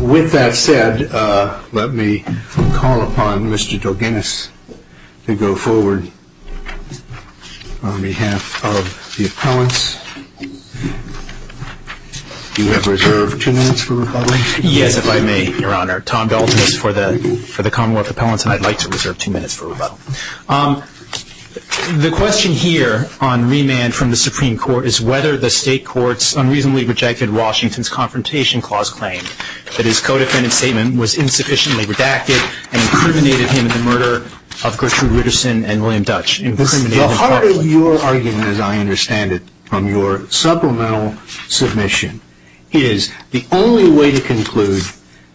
With that said, let me call upon Mr. Dorganis to go forward on behalf of the appellants. You have reserved two minutes for rebuttal. Yes, if I may, Your Honor. Tom Dorganis for the Commonwealth Appellants, and I'd like to reserve two minutes for rebuttal. The question here on remand from the Supreme Court is whether the State Courts unreasonably rejected Washington's Confrontation Clause claim that his co-defendant statement was insufficiently redacted and incriminated him in the murder of Gertrude Richardson and William Dutch. The heart of your argument, as I understand it from your supplemental submission, is the only way to conclude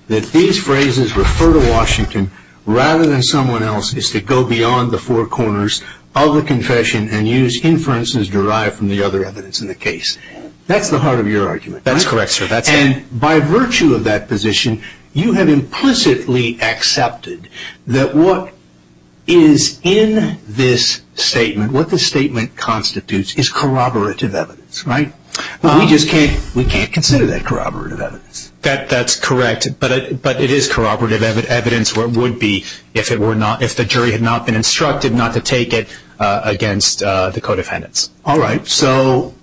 that these phrases refer to Washington rather than someone else is to go beyond the four corners of the confession and use inferences derived from the other evidence in the case. That's the heart of your argument. That's correct, sir. That's it. And by virtue of that position, you have implicitly accepted that what is in this statement, what the statement constitutes, is corroborative evidence, right? We just can't consider that corroborative evidence. That's correct, but it is corroborative evidence where it would be if the jury had not been instructed not to take it against the co-defendants. All right, so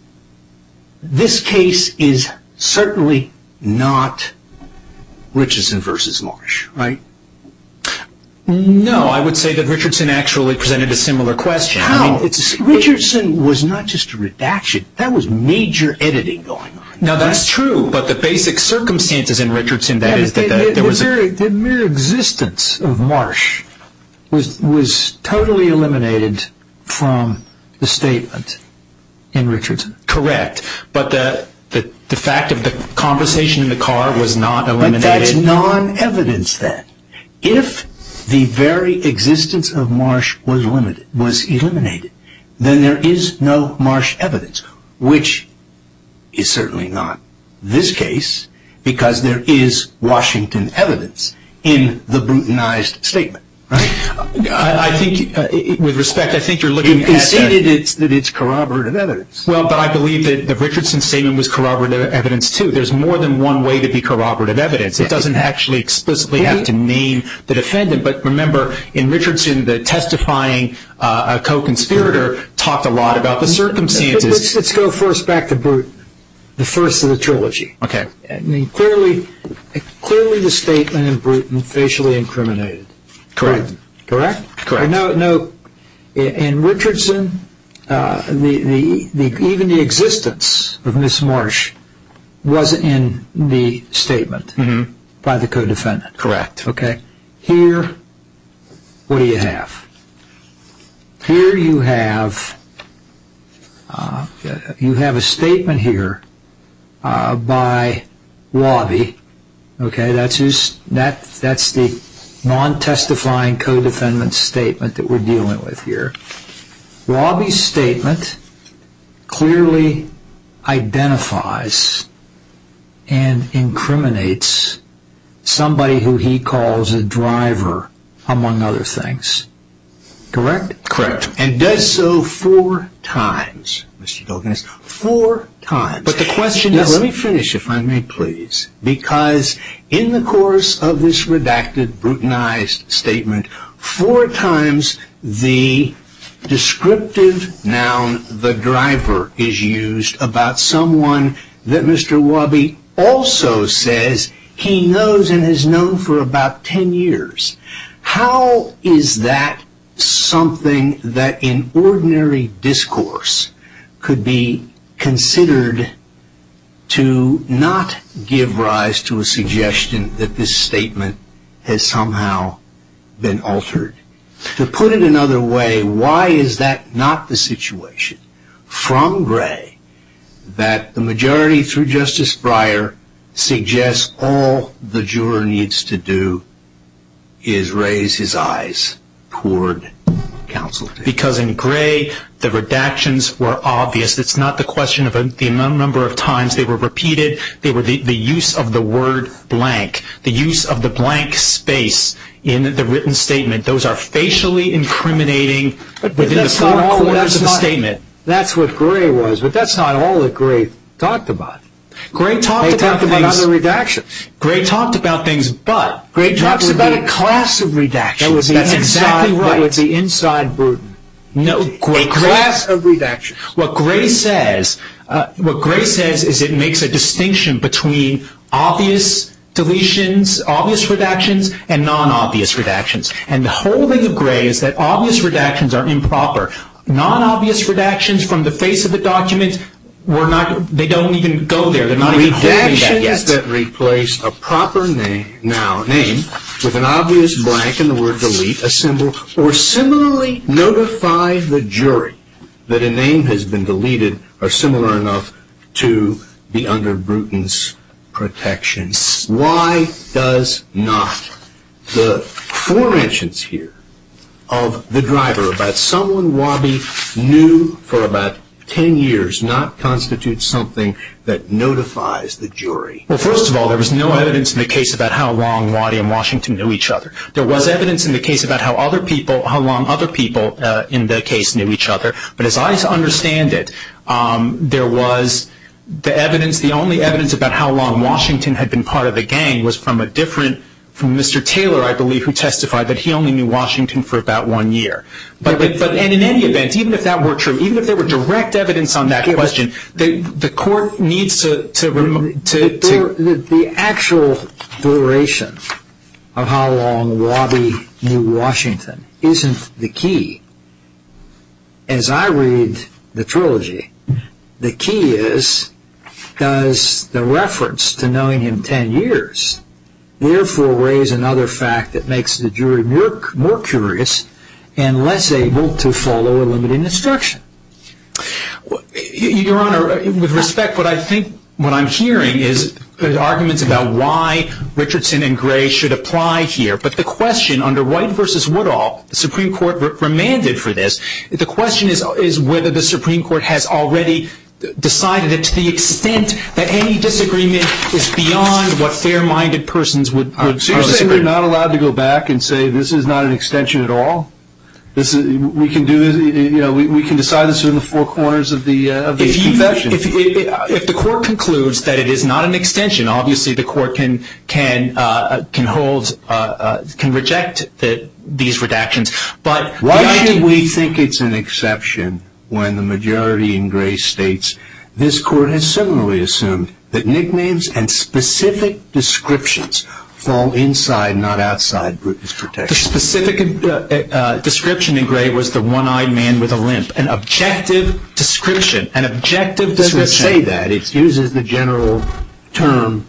this case is certainly not Richardson v. Marsh, right? No, I would say that Richardson actually presented a similar question. Richardson was not just a redaction. That was major editing going on. Now, that's true, but the basic circumstances in Richardson, that is... The mere existence of Marsh was totally eliminated from the statement in Richardson. Correct, but the fact of the conversation in the car was not eliminated. That's non-evidence, then. If the very existence of Marsh was eliminated, then there is no Marsh evidence, which is certainly not this case because there is Washington evidence in the brutalized statement, right? I think, with respect, I think you're looking at... You conceded that it's corroborative evidence. Well, but I believe that the Richardson statement was corroborative evidence, too. There's more than one way to be corroborative evidence. It doesn't actually explicitly have to name the defendant. But remember, in Richardson, the testifying co-conspirator talked a lot about the circumstances. Let's go first back to Bruton, the first of the trilogy. Okay. Clearly, the statement in Bruton, facially incriminated. Correct. Correct? Correct. In Richardson, even the existence of Ms. Marsh was in the statement by the co-defendant. Correct. Okay. Here, what do you have? Here, you have a statement here by Robby. Okay. That's the non-testifying co-defendant's statement that we're dealing with here. Robby's statement clearly identifies and incriminates somebody who he calls a driver, among other things. Correct? Correct. And does so four times, Mr. Dulkin. Four times. But the question is... Now, let me finish, if I may, please. Because in the course of this redacted, Brutonized statement, four times the descriptive noun, the driver, is used about someone that Mr. Robby also says he knows and has known for about ten years. How is that something that in ordinary discourse could be considered to not give rise to a suggestion that this statement has somehow been altered? To put it another way, why is that not the situation from Gray that the majority, through Justice Breyer, suggests all the juror needs to do is raise his eyes toward counsel? Because in Gray, the redactions were obvious. It's not the question of the number of times they were repeated. They were the use of the word blank. The use of the blank space in the written statement. Those are facially incriminating within the four quarters of the statement. That's what Gray was. But that's not all that Gray talked about. Gray talked about things... They talked about other redactions. Gray talked about things, but... Gray talked about a class of redactions. That's exactly right. That would be inside Bruton. No, Gray... A class of redactions. What Gray says is it makes a distinction between obvious deletions, obvious redactions, and non-obvious redactions. And the whole thing of Gray is that obvious redactions are improper. Non-obvious redactions from the face of the document, they don't even go there. They're not even holding that yet. Does that replace a proper name with an obvious blank in the word delete, a symbol, or similarly notify the jury that a name has been deleted or similar enough to be under Bruton's protection? Why does not the forensics here of the driver, about someone Waddy knew for about 10 years not constitute something that notifies the jury? Well, first of all, there was no evidence in the case about how long Waddy and Washington knew each other. There was evidence in the case about how long other people in the case knew each other. But as I understand it, there was the evidence... The only evidence about how long Washington had been part of the gang was from a different... And in any event, even if that were true, even if there were direct evidence on that question, the court needs to... The actual duration of how long Waddy knew Washington isn't the key. As I read the trilogy, the key is does the reference to knowing him 10 years therefore raise another fact that makes the jury more curious and less able to follow a limited instruction? Your Honor, with respect, what I think, what I'm hearing is the arguments about why Richardson and Gray should apply here, but the question under White v. Woodall, the Supreme Court remanded for this, the question is whether the Supreme Court has already decided that to the extent that any disagreement is beyond what fair-minded persons would... So you're saying we're not allowed to go back and say this is not an extension at all? We can decide this in the four corners of the confession. If the court concludes that it is not an extension, obviously the court can reject these redactions. Why do we think it's an exception when the majority in Gray states, this court has similarly assumed that nicknames and specific descriptions fall inside, not outside, Brutus' protection? The specific description in Gray was the one-eyed man with a limp. An objective description. An objective description... It doesn't say that. It uses the general term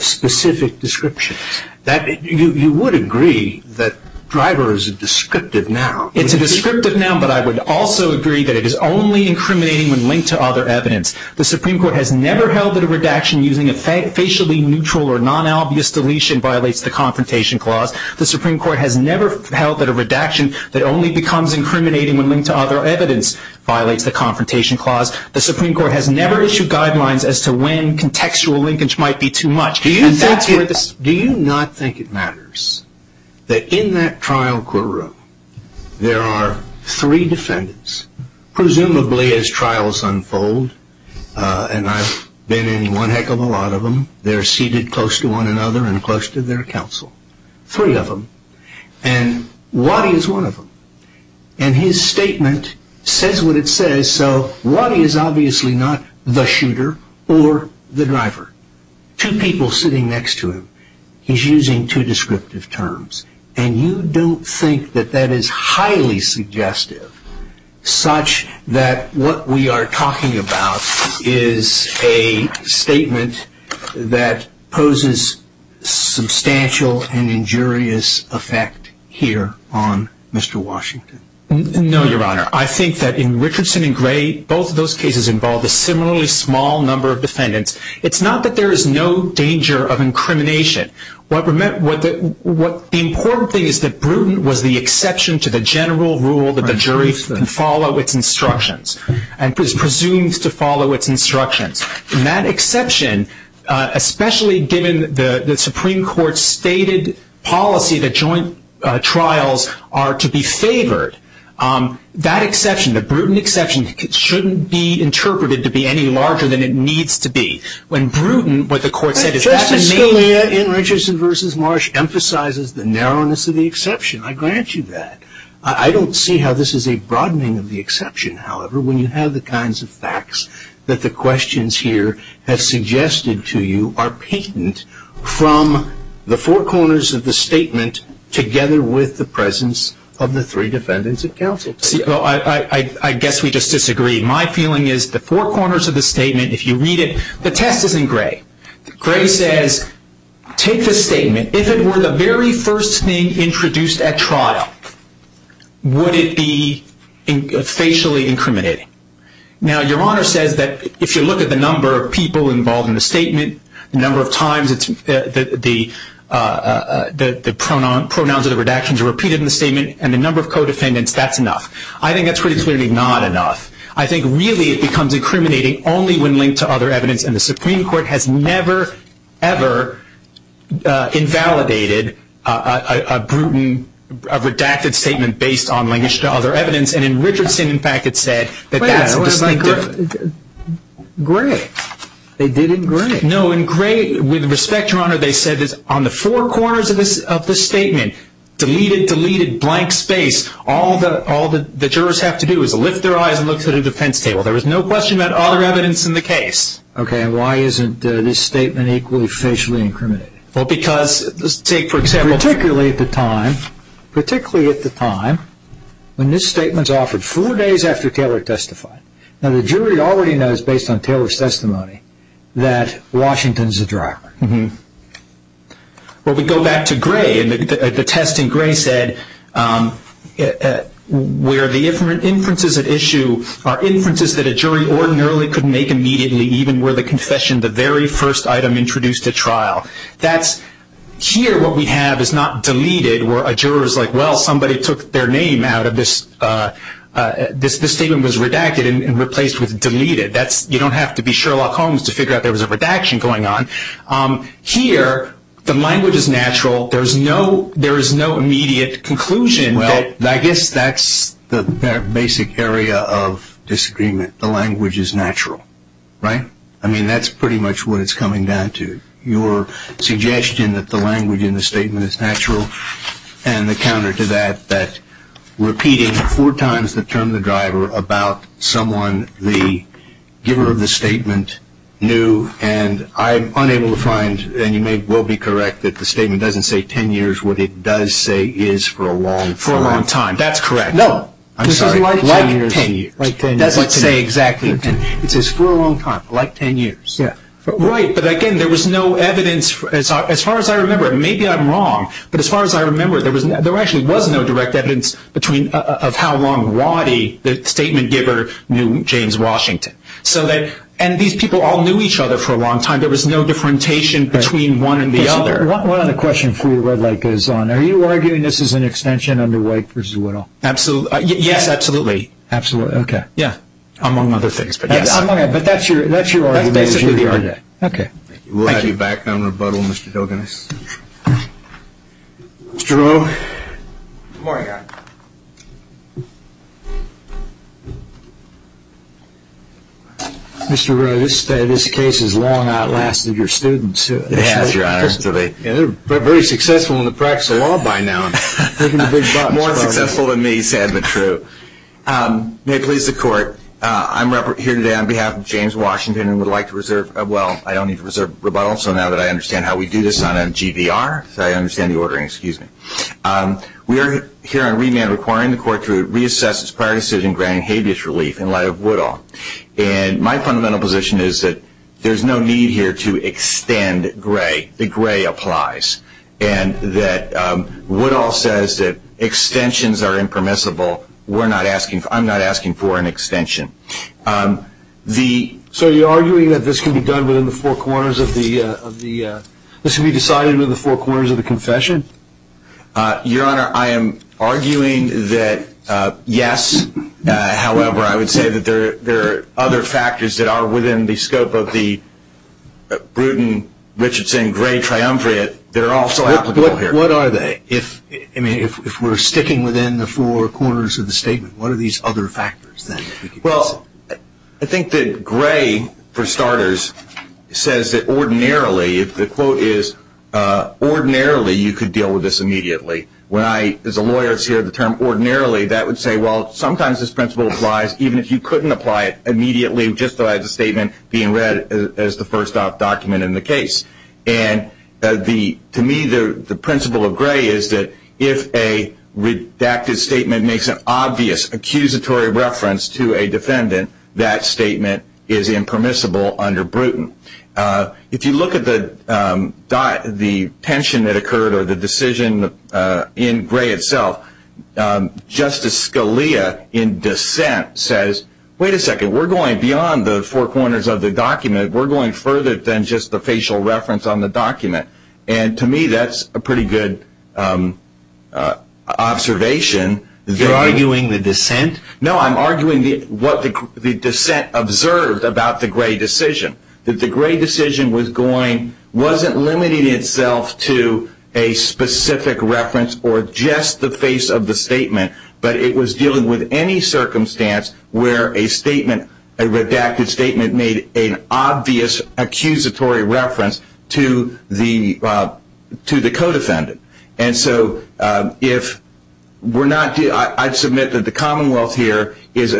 specific descriptions. You would agree that driver is a descriptive noun. It's a descriptive noun, but I would also agree that it is only incriminating when linked to other evidence. The Supreme Court has never held that a redaction using a facially neutral or non-obvious deletion violates the Confrontation Clause. The Supreme Court has never held that a redaction that only becomes incriminating when linked to other evidence violates the Confrontation Clause. The Supreme Court has never issued guidelines as to when contextual linkage might be too much. Do you not think it matters that in that trial courtroom there are three defendants, presumably as trials unfold, and I've been in one heck of a lot of them, they're seated close to one another and close to their counsel. Three of them. And Waddy is one of them. And his statement says what it says, so Waddy is obviously not the shooter or the driver. Two people sitting next to him. He's using two descriptive terms. And you don't think that that is highly suggestive such that what we are talking about is a statement that poses substantial and injurious effect here on Mr. Washington? No, Your Honor. I think that in Richardson and Gray, both of those cases involved a similarly small number of defendants. It's not that there is no danger of incrimination. The important thing is that Bruton was the exception to the general rule that the jury can follow its instructions and is presumed to follow its instructions. And that exception, especially given the Supreme Court's stated policy that joint trials are to be favored, that exception, the Bruton exception, shouldn't be interpreted to be any larger than it needs to be. When Bruton, what the court said is that the main... Justice Scalia, in Richardson v. Marsh, emphasizes the narrowness of the exception. I grant you that. I don't see how this is a broadening of the exception, however, when you have the kinds of facts that the questions here have suggested to you are patent from the four corners of the statement together with the presence of the three defendants in counsel. I guess we just disagree. My feeling is the four corners of the statement, if you read it, the test is in Gray. Gray says, take the statement, if it were the very first thing introduced at trial, would it be facially incriminating? Now, Your Honor says that if you look at the number of people involved in the statement, the number of times the pronouns of the redactions are repeated in the statement, and the number of co-defendants, that's enough. I think that's pretty clearly not enough. I think really it becomes incriminating only when linked to other evidence, and the Supreme Court has never, ever invalidated a Bruton, a redacted statement based on linkage to other evidence. And in Richardson, in fact, it said that that's distinctive. Gray. They did in Gray. No, in Gray, with respect, Your Honor, they said that on the four corners of the statement, deleted, deleted, blank space, all the jurors have to do is lift their eyes and look to the defense table. There is no question about other evidence in the case. Okay, and why isn't this statement equally facially incriminating? Well, because, let's take, for example. Particularly at the time, particularly at the time when this statement's offered four days after Taylor testified. Now, the jury already knows, based on Taylor's testimony, that Washington's the driver. Well, we go back to Gray, and the test in Gray said, where the inferences at issue are inferences that a jury ordinarily could make immediately, even where the confession, the very first item introduced at trial. Here, what we have is not deleted, where a juror's like, well, somebody took their name out of this. This statement was redacted and replaced with deleted. You don't have to be Sherlock Holmes to figure out there was a redaction going on. Here, the language is natural. There is no immediate conclusion. Well, I guess that's the basic area of disagreement. The language is natural, right? I mean, that's pretty much what it's coming down to. Your suggestion that the language in the statement is natural and the counter to that, that repeating four times the term of the driver about someone, the giver of the statement, knew, and I'm unable to find, and you may well be correct, that the statement doesn't say 10 years. What it does say is for a long time. For a long time. That's correct. No. I'm sorry. Like 10 years. Like 10 years. It doesn't say exactly. It says for a long time, like 10 years. Yeah. Right, but again, there was no evidence. As far as I remember, and maybe I'm wrong, but as far as I remember, there actually was no direct evidence of how long Roddy, the statement giver, knew James Washington. And these people all knew each other for a long time. There was no differentiation between one and the other. Are you arguing this is an extension under Wake v. Whittle? Absolutely. Yes, absolutely. Absolutely. Okay. Yeah. Among other things, but yes. But that's your argument. That's basically the argument. Okay. Thank you. We'll have you back on rebuttal, Mr. Dilganis. Mr. Rowe. Good morning. Mr. Rowe, this case has long outlasted your students. It has, Your Honor. They're very successful in the practice of law by now. More successful than me, sad but true. May it please the Court, I'm here today on behalf of James Washington and would like to reserve – well, I don't need to reserve rebuttal, so now that I understand how we do this on GVR, so I understand the ordering. Excuse me. We are here on remand requiring the Court to reassess its prior decision granting habeas relief in light of Whittle. And my fundamental position is that there's no need here to extend Gray. The Gray applies. And that Whittle says that extensions are impermissible. We're not asking – I'm not asking for an extension. So you're arguing that this can be done within the four corners of the – this can be decided within the four corners of the confession? Your Honor, I am arguing that, yes. However, I would say that there are other factors that are within the scope of the Bruton-Richardson-Gray triumvirate. They're also applicable here. What are they? I mean, if we're sticking within the four corners of the statement, what are these other factors then? Well, I think that Gray, for starters, says that ordinarily, if the quote is, ordinarily you could deal with this immediately. When I, as a lawyer, hear the term ordinarily, that would say, well, sometimes this principle applies, even if you couldn't apply it immediately just as a statement being read as the first-off document in the case. And to me, the principle of Gray is that if a redacted statement makes an obvious accusatory reference to a defendant, that statement is impermissible under Bruton. If you look at the tension that occurred or the decision in Gray itself, Justice Scalia, in dissent, says, wait a second, we're going beyond the four corners of the document. We're going further than just the facial reference on the document. And to me, that's a pretty good observation. You're arguing the dissent? No, I'm arguing what the dissent observed about the Gray decision, that the Gray decision was going, wasn't limiting itself to a specific reference or just the face of the statement, but it was dealing with any circumstance where a statement, a redacted statement, made an obvious accusatory reference to the co-defendant. And so if we're not, I submit that the Commonwealth here is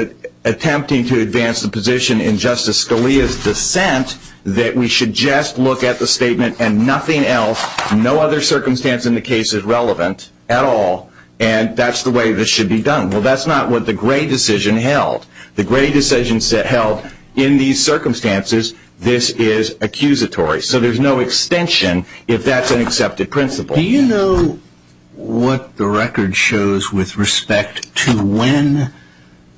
attempting to advance the position in Justice Scalia's dissent that we should just look at the statement and nothing else, no other circumstance in the case is relevant at all. And that's the way this should be done. Well, that's not what the Gray decision held. The Gray decision held in these circumstances, this is accusatory. So there's no extension if that's an accepted principle. Do you know what the record shows with respect to when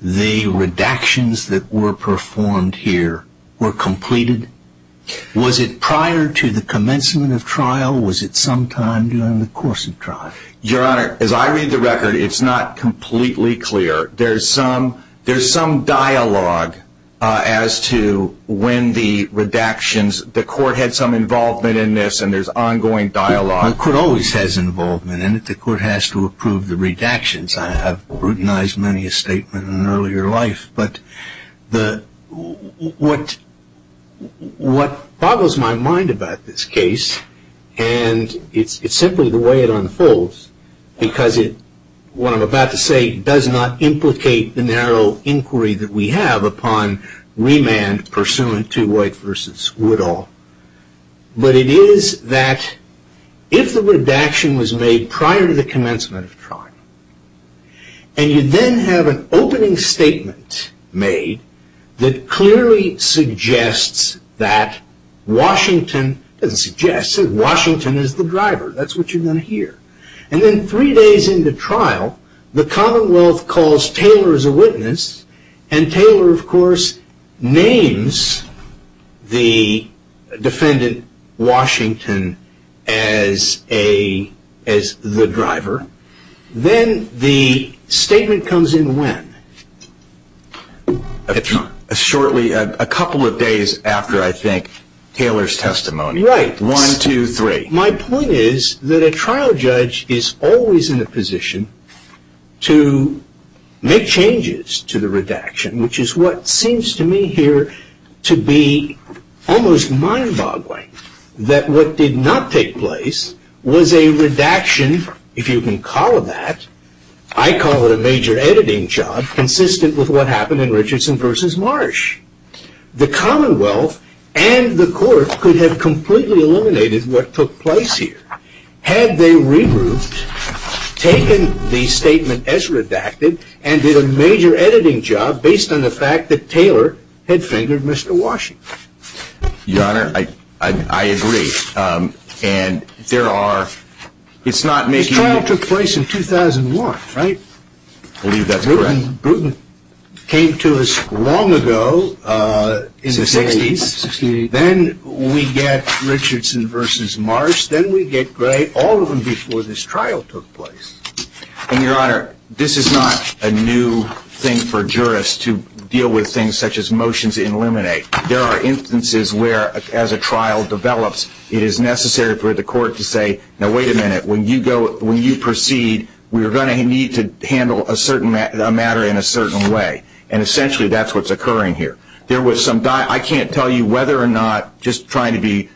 the redactions that were performed here were completed? Was it prior to the commencement of trial? Was it sometime during the course of trial? Your Honor, as I read the record, it's not completely clear. There's some dialogue as to when the redactions, the court had some involvement in this, and there's ongoing dialogue. The court always has involvement in it. The court has to approve the redactions. I have routinized many a statement in an earlier life. But what boggles my mind about this case, and it's simply the way it unfolds, because what I'm about to say does not implicate the narrow inquiry that we have upon remand pursuant to White v. Woodall, but it is that if the redaction was made prior to the commencement of trial and you then have an opening statement made that clearly suggests that Washington is the driver, that's what you're going to hear. And then three days into trial, the Commonwealth calls Taylor as a witness, and Taylor of course names the defendant Washington as the driver. Then the statement comes in when? Shortly, a couple of days after, I think, Taylor's testimony. Right. One, two, three. My point is that a trial judge is always in a position to make changes to the redaction, which is what seems to me here to be almost mind-boggling, that what did not take place was a redaction, if you can call it that. I call it a major editing job consistent with what happened in Richardson v. Marsh. The Commonwealth and the court could have completely eliminated what took place here had they regrouped, taken the statement as redacted, and did a major editing job based on the fact that Taylor had fingered Mr. Washington. Your Honor, I agree. This trial took place in 2001, right? I believe that's correct. Bruton came to us long ago in the 60s. Then we get Richardson v. Marsh. Then we get all of them before this trial took place. And, Your Honor, this is not a new thing for jurists to deal with things such as motions to eliminate. There are instances where, as a trial develops, it is necessary for the court to say, now wait a minute, when you proceed, we are going to need to handle a matter in a certain way. And essentially that's what's occurring here. I can't tell you whether or not, just trying to be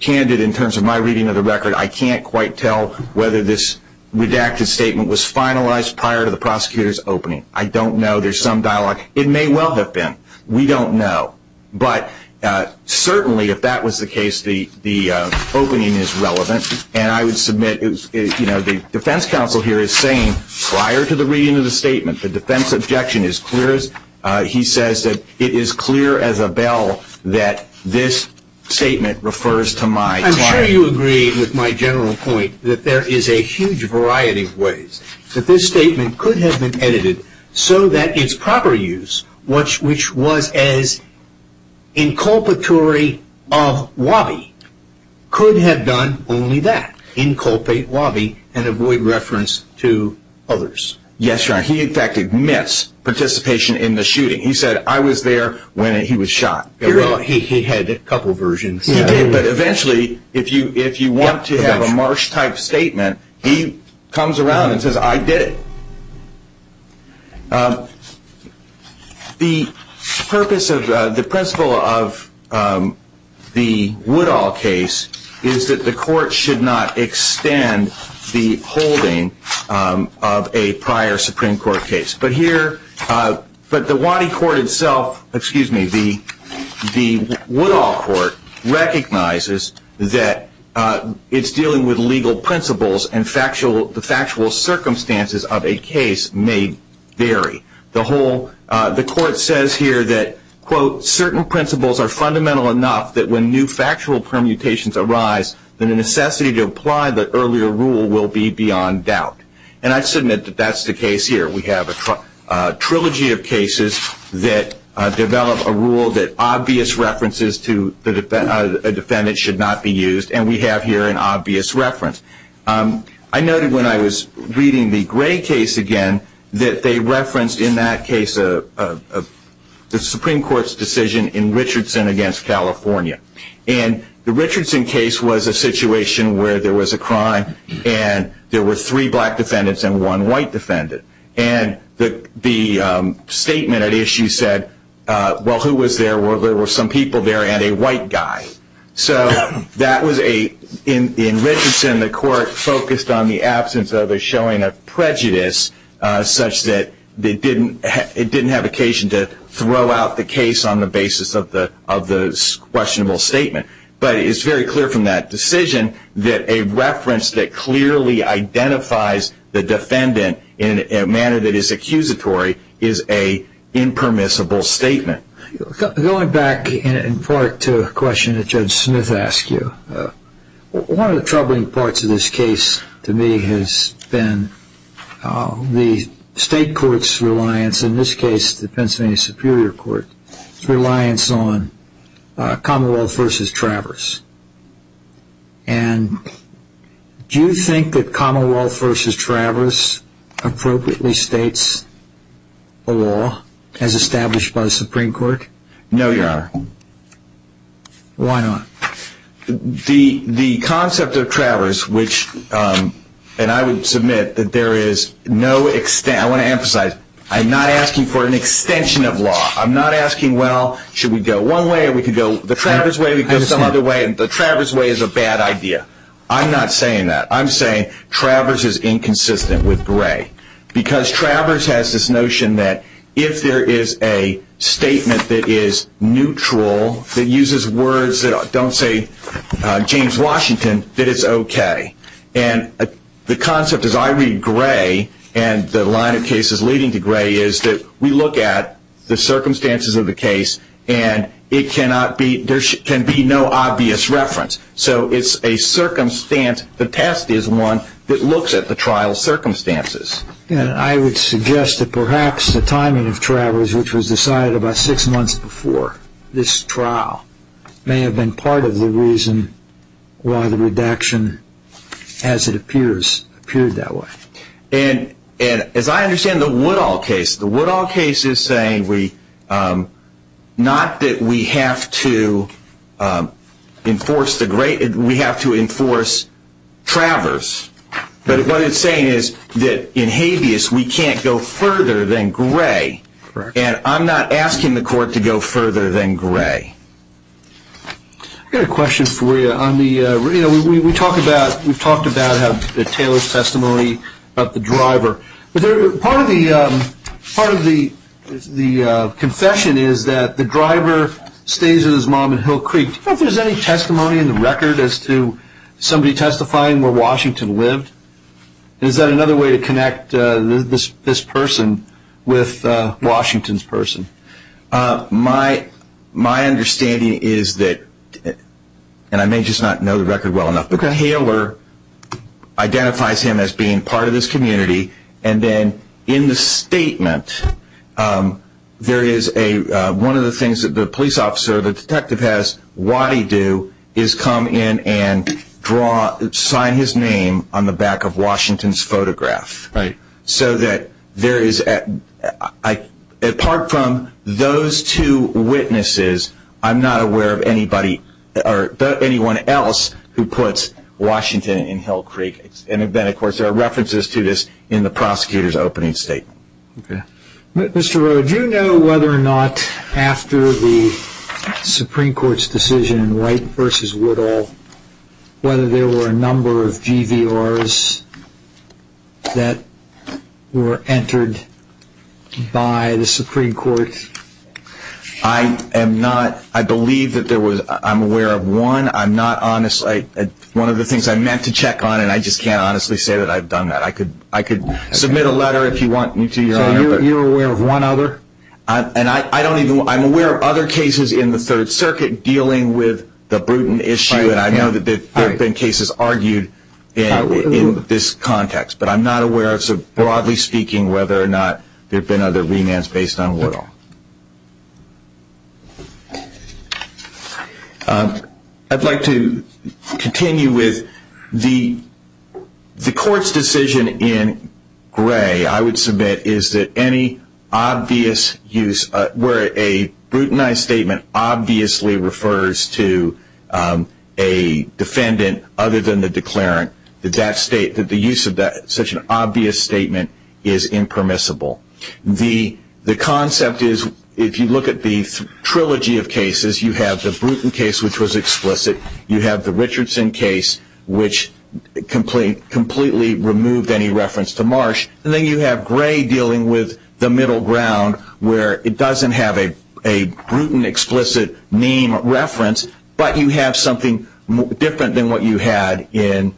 candid in terms of my reading of the record, I can't quite tell whether this redacted statement was finalized prior to the prosecutor's opening. I don't know. There's some dialogue. It may well have been. We don't know. But certainly, if that was the case, the opening is relevant. And I would submit the defense counsel here is saying, prior to the reading of the statement, the defense objection is clear. He says that it is clear as a bell that this statement refers to my client. I'm sure you agree with my general point that there is a huge variety of ways that this statement could have been edited so that its proper use, which was as inculpatory of Wabi, could have done only that, inculpate Wabi and avoid reference to others. Yes, Your Honor. He in fact admits participation in the shooting. He said, I was there when he was shot. He had a couple versions. But eventually, if you want to have a Marsh-type statement, he comes around and says, I did it. The purpose of the principle of the Woodall case is that the court should not extend the holding of a prior Supreme Court case. But the Wadi court itself, excuse me, the Woodall court recognizes that it's dealing with legal principles and the factual circumstances of a case may vary. The court says here that, quote, certain principles are fundamental enough that when new factual permutations arise, the necessity to apply the earlier rule will be beyond doubt. And I submit that that's the case here. We have a trilogy of cases that develop a rule that obvious references to a defendant should not be used. And we have here an obvious reference. I noted when I was reading the Gray case again that they referenced in that case the Supreme Court's decision in Richardson against California. And the Richardson case was a situation where there was a crime and there were three black defendants and one white defendant. And the statement at issue said, well, who was there? Well, there were some people there and a white guy. So that was a, in Richardson, the court focused on the absence of a showing of prejudice such that it didn't have occasion to throw out the case on the basis of the questionable statement. But it's very clear from that decision that a reference that clearly identifies the defendant in a manner that is accusatory is a impermissible statement. Going back in part to a question that Judge Smith asked you, one of the troubling parts of this case to me has been the state court's reliance, in this case, the Pennsylvania Superior Court's reliance on Commonwealth v. Travers. And do you think that Commonwealth v. Travers appropriately states a law as established by the Supreme Court? No, Your Honor. Why not? The concept of Travers, which, and I would submit that there is no, I want to emphasize, I'm not asking for an extension of law. I'm not asking, well, should we go one way or we could go the Travers way or we could go some other way. The Travers way is a bad idea. I'm not saying that. Because Travers has this notion that if there is a statement that is neutral, that uses words that don't say James Washington, that it's okay. And the concept, as I read Gray and the line of cases leading to Gray, is that we look at the circumstances of the case and it cannot be, there can be no obvious reference. So it's a circumstance, the test is one that looks at the trial circumstances. And I would suggest that perhaps the timing of Travers, which was decided about six months before this trial, may have been part of the reason why the redaction, as it appears, appeared that way. And as I understand the Woodall case, the Woodall case is saying not that we have to enforce Travers, but what it's saying is that in habeas we can't go further than Gray. And I'm not asking the court to go further than Gray. I've got a question for you. We've talked about Taylor's testimony about the driver. Part of the confession is that the driver stays with his mom in Hill Creek. Do you know if there's any testimony in the record as to somebody testifying where Washington lived? Is that another way to connect this person with Washington's person? My understanding is that, and I may just not know the record well enough, but Gray Hayler identifies him as being part of this community. And then in the statement there is a, one of the things that the police officer, the detective has, what he do is come in and sign his name on the back of Washington's photograph. Right. So that there is, apart from those two witnesses, I'm not aware of anybody or anyone else who puts Washington in Hill Creek. And then, of course, there are references to this in the prosecutor's opening statement. Okay. Mr. Rowe, do you know whether or not after the Supreme Court's decision in Wright v. Woodall, whether there were a number of GVRs that were entered by the Supreme Court? I am not, I believe that there was, I'm aware of one. I'm not honestly, one of the things I meant to check on, and I just can't honestly say that I've done that. I could submit a letter if you want me to. So you're aware of one other? And I don't even, I'm aware of other cases in the Third Circuit dealing with the Bruton issue. And I know that there have been cases argued in this context. But I'm not aware, broadly speaking, whether or not there have been other remands based on Woodall. I'd like to continue with the Court's decision in Gray, I would submit, is that any obvious use, where a Brutonized statement obviously refers to a defendant other than the declarant, that the use of such an obvious statement is impermissible. The concept is, if you look at the trilogy of cases, you have the Bruton case, which was explicit. You have the Richardson case, which completely removed any reference to Marsh. And then you have Gray dealing with the middle ground, where it doesn't have a Bruton explicit name reference, but you have something different than what you had in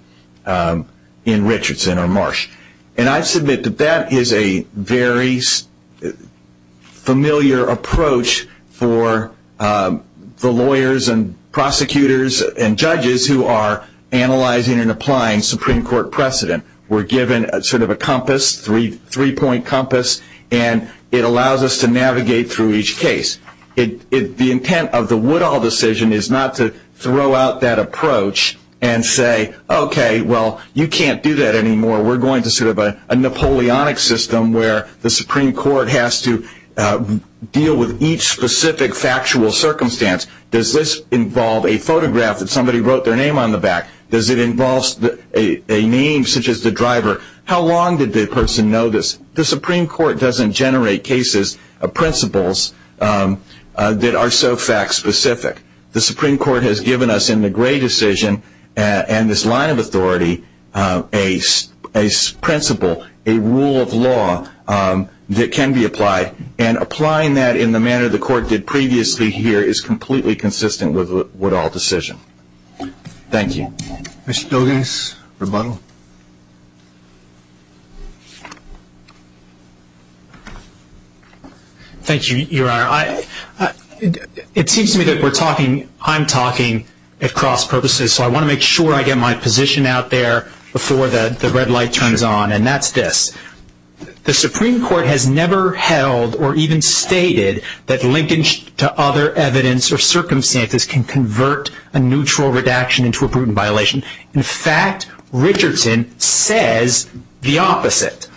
Richardson or Marsh. And I submit that that is a very familiar approach for the lawyers and prosecutors and judges who are analyzing and applying Supreme Court precedent. We're given sort of a compass, three-point compass, and it allows us to navigate through each case. The intent of the Woodall decision is not to throw out that approach and say, okay, well, you can't do that anymore, we're going to sort of a Napoleonic system where the Supreme Court has to deal with each specific factual circumstance. Does this involve a photograph that somebody wrote their name on the back? Does it involve a name such as the driver? How long did the person know this? The Supreme Court doesn't generate cases or principles that are so fact-specific. The Supreme Court has given us in the Gray decision and this line of authority a principle, a rule of law that can be applied. And applying that in the manner the court did previously here is completely consistent with the Woodall decision. Thank you. Mr. Douglas, rebuttal. Thank you, Your Honor. It seems to me that we're talking, I'm talking at cross purposes, so I want to make sure I get my position out there before the red light turns on, and that's this. The Supreme Court has never held or even stated that linkage to other evidence or circumstances can convert a neutral redaction into a prudent violation. In fact, Richardson says the opposite.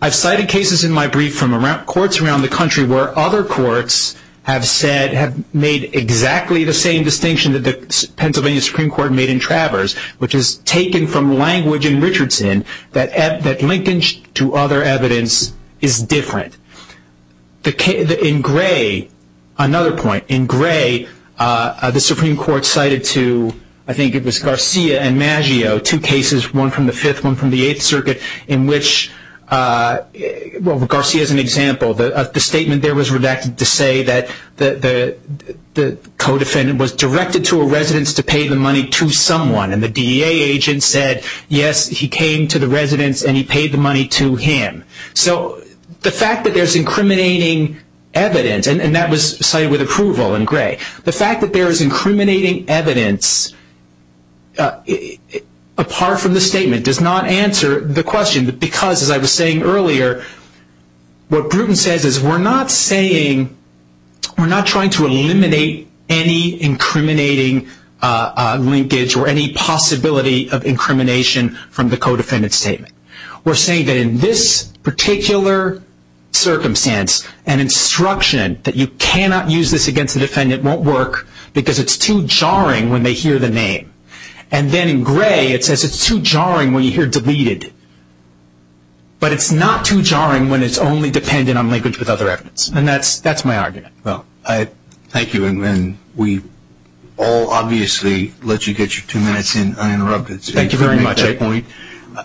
I've cited cases in my brief from courts around the country where other courts have said, have made exactly the same distinction that the Pennsylvania Supreme Court made in Travers, which is taken from language in Richardson that linkage to other evidence is different. In Gray, another point, in Gray the Supreme Court cited to, I think it was Garcia and Maggio, two cases, one from the Fifth, one from the Eighth Circuit, in which Garcia is an example. The statement there was redacted to say that the co-defendant was directed to a residence to pay the money to someone, and the DEA agent said, yes, he came to the residence and he paid the money to him. So the fact that there's incriminating evidence, and that was cited with approval in Gray, the fact that there is incriminating evidence apart from the statement does not answer the question, because as I was saying earlier, what Bruton says is we're not saying, we're not trying to eliminate any incriminating linkage or any possibility of incrimination from the co-defendant statement. We're saying that in this particular circumstance, an instruction that you cannot use this against the defendant won't work, because it's too jarring when they hear the name. And then in Gray, it says it's too jarring when you hear deleted. But it's not too jarring when it's only dependent on linkage with other evidence, and that's my argument. Well, thank you, and we all obviously let you get your two minutes in uninterrupted. Thank you very much. At this point,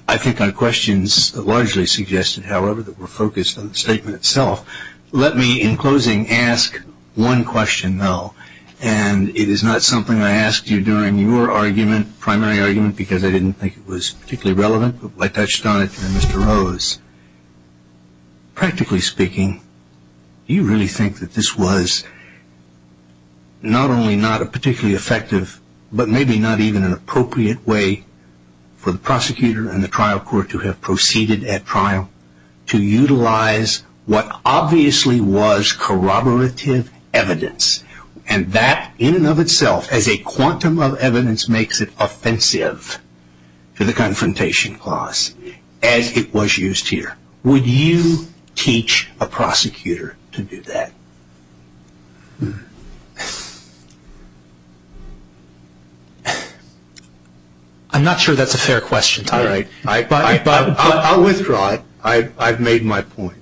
I think our questions largely suggested, however, that we're focused on the statement itself. Let me, in closing, ask one question, though, and it is not something I asked you during your argument, primary argument, because I didn't think it was particularly relevant, but I touched on it to Mr. Rose. Practically speaking, do you really think that this was not only not a particularly effective, but maybe not even an appropriate way for the prosecutor and the trial court to have proceeded at trial to utilize what obviously was corroborative evidence, and that in and of itself, as a quantum of evidence, makes it offensive to the confrontation clause, as it was used here? Would you teach a prosecutor to do that? I'm not sure that's a fair question. All right. I'll withdraw it. I've made my point.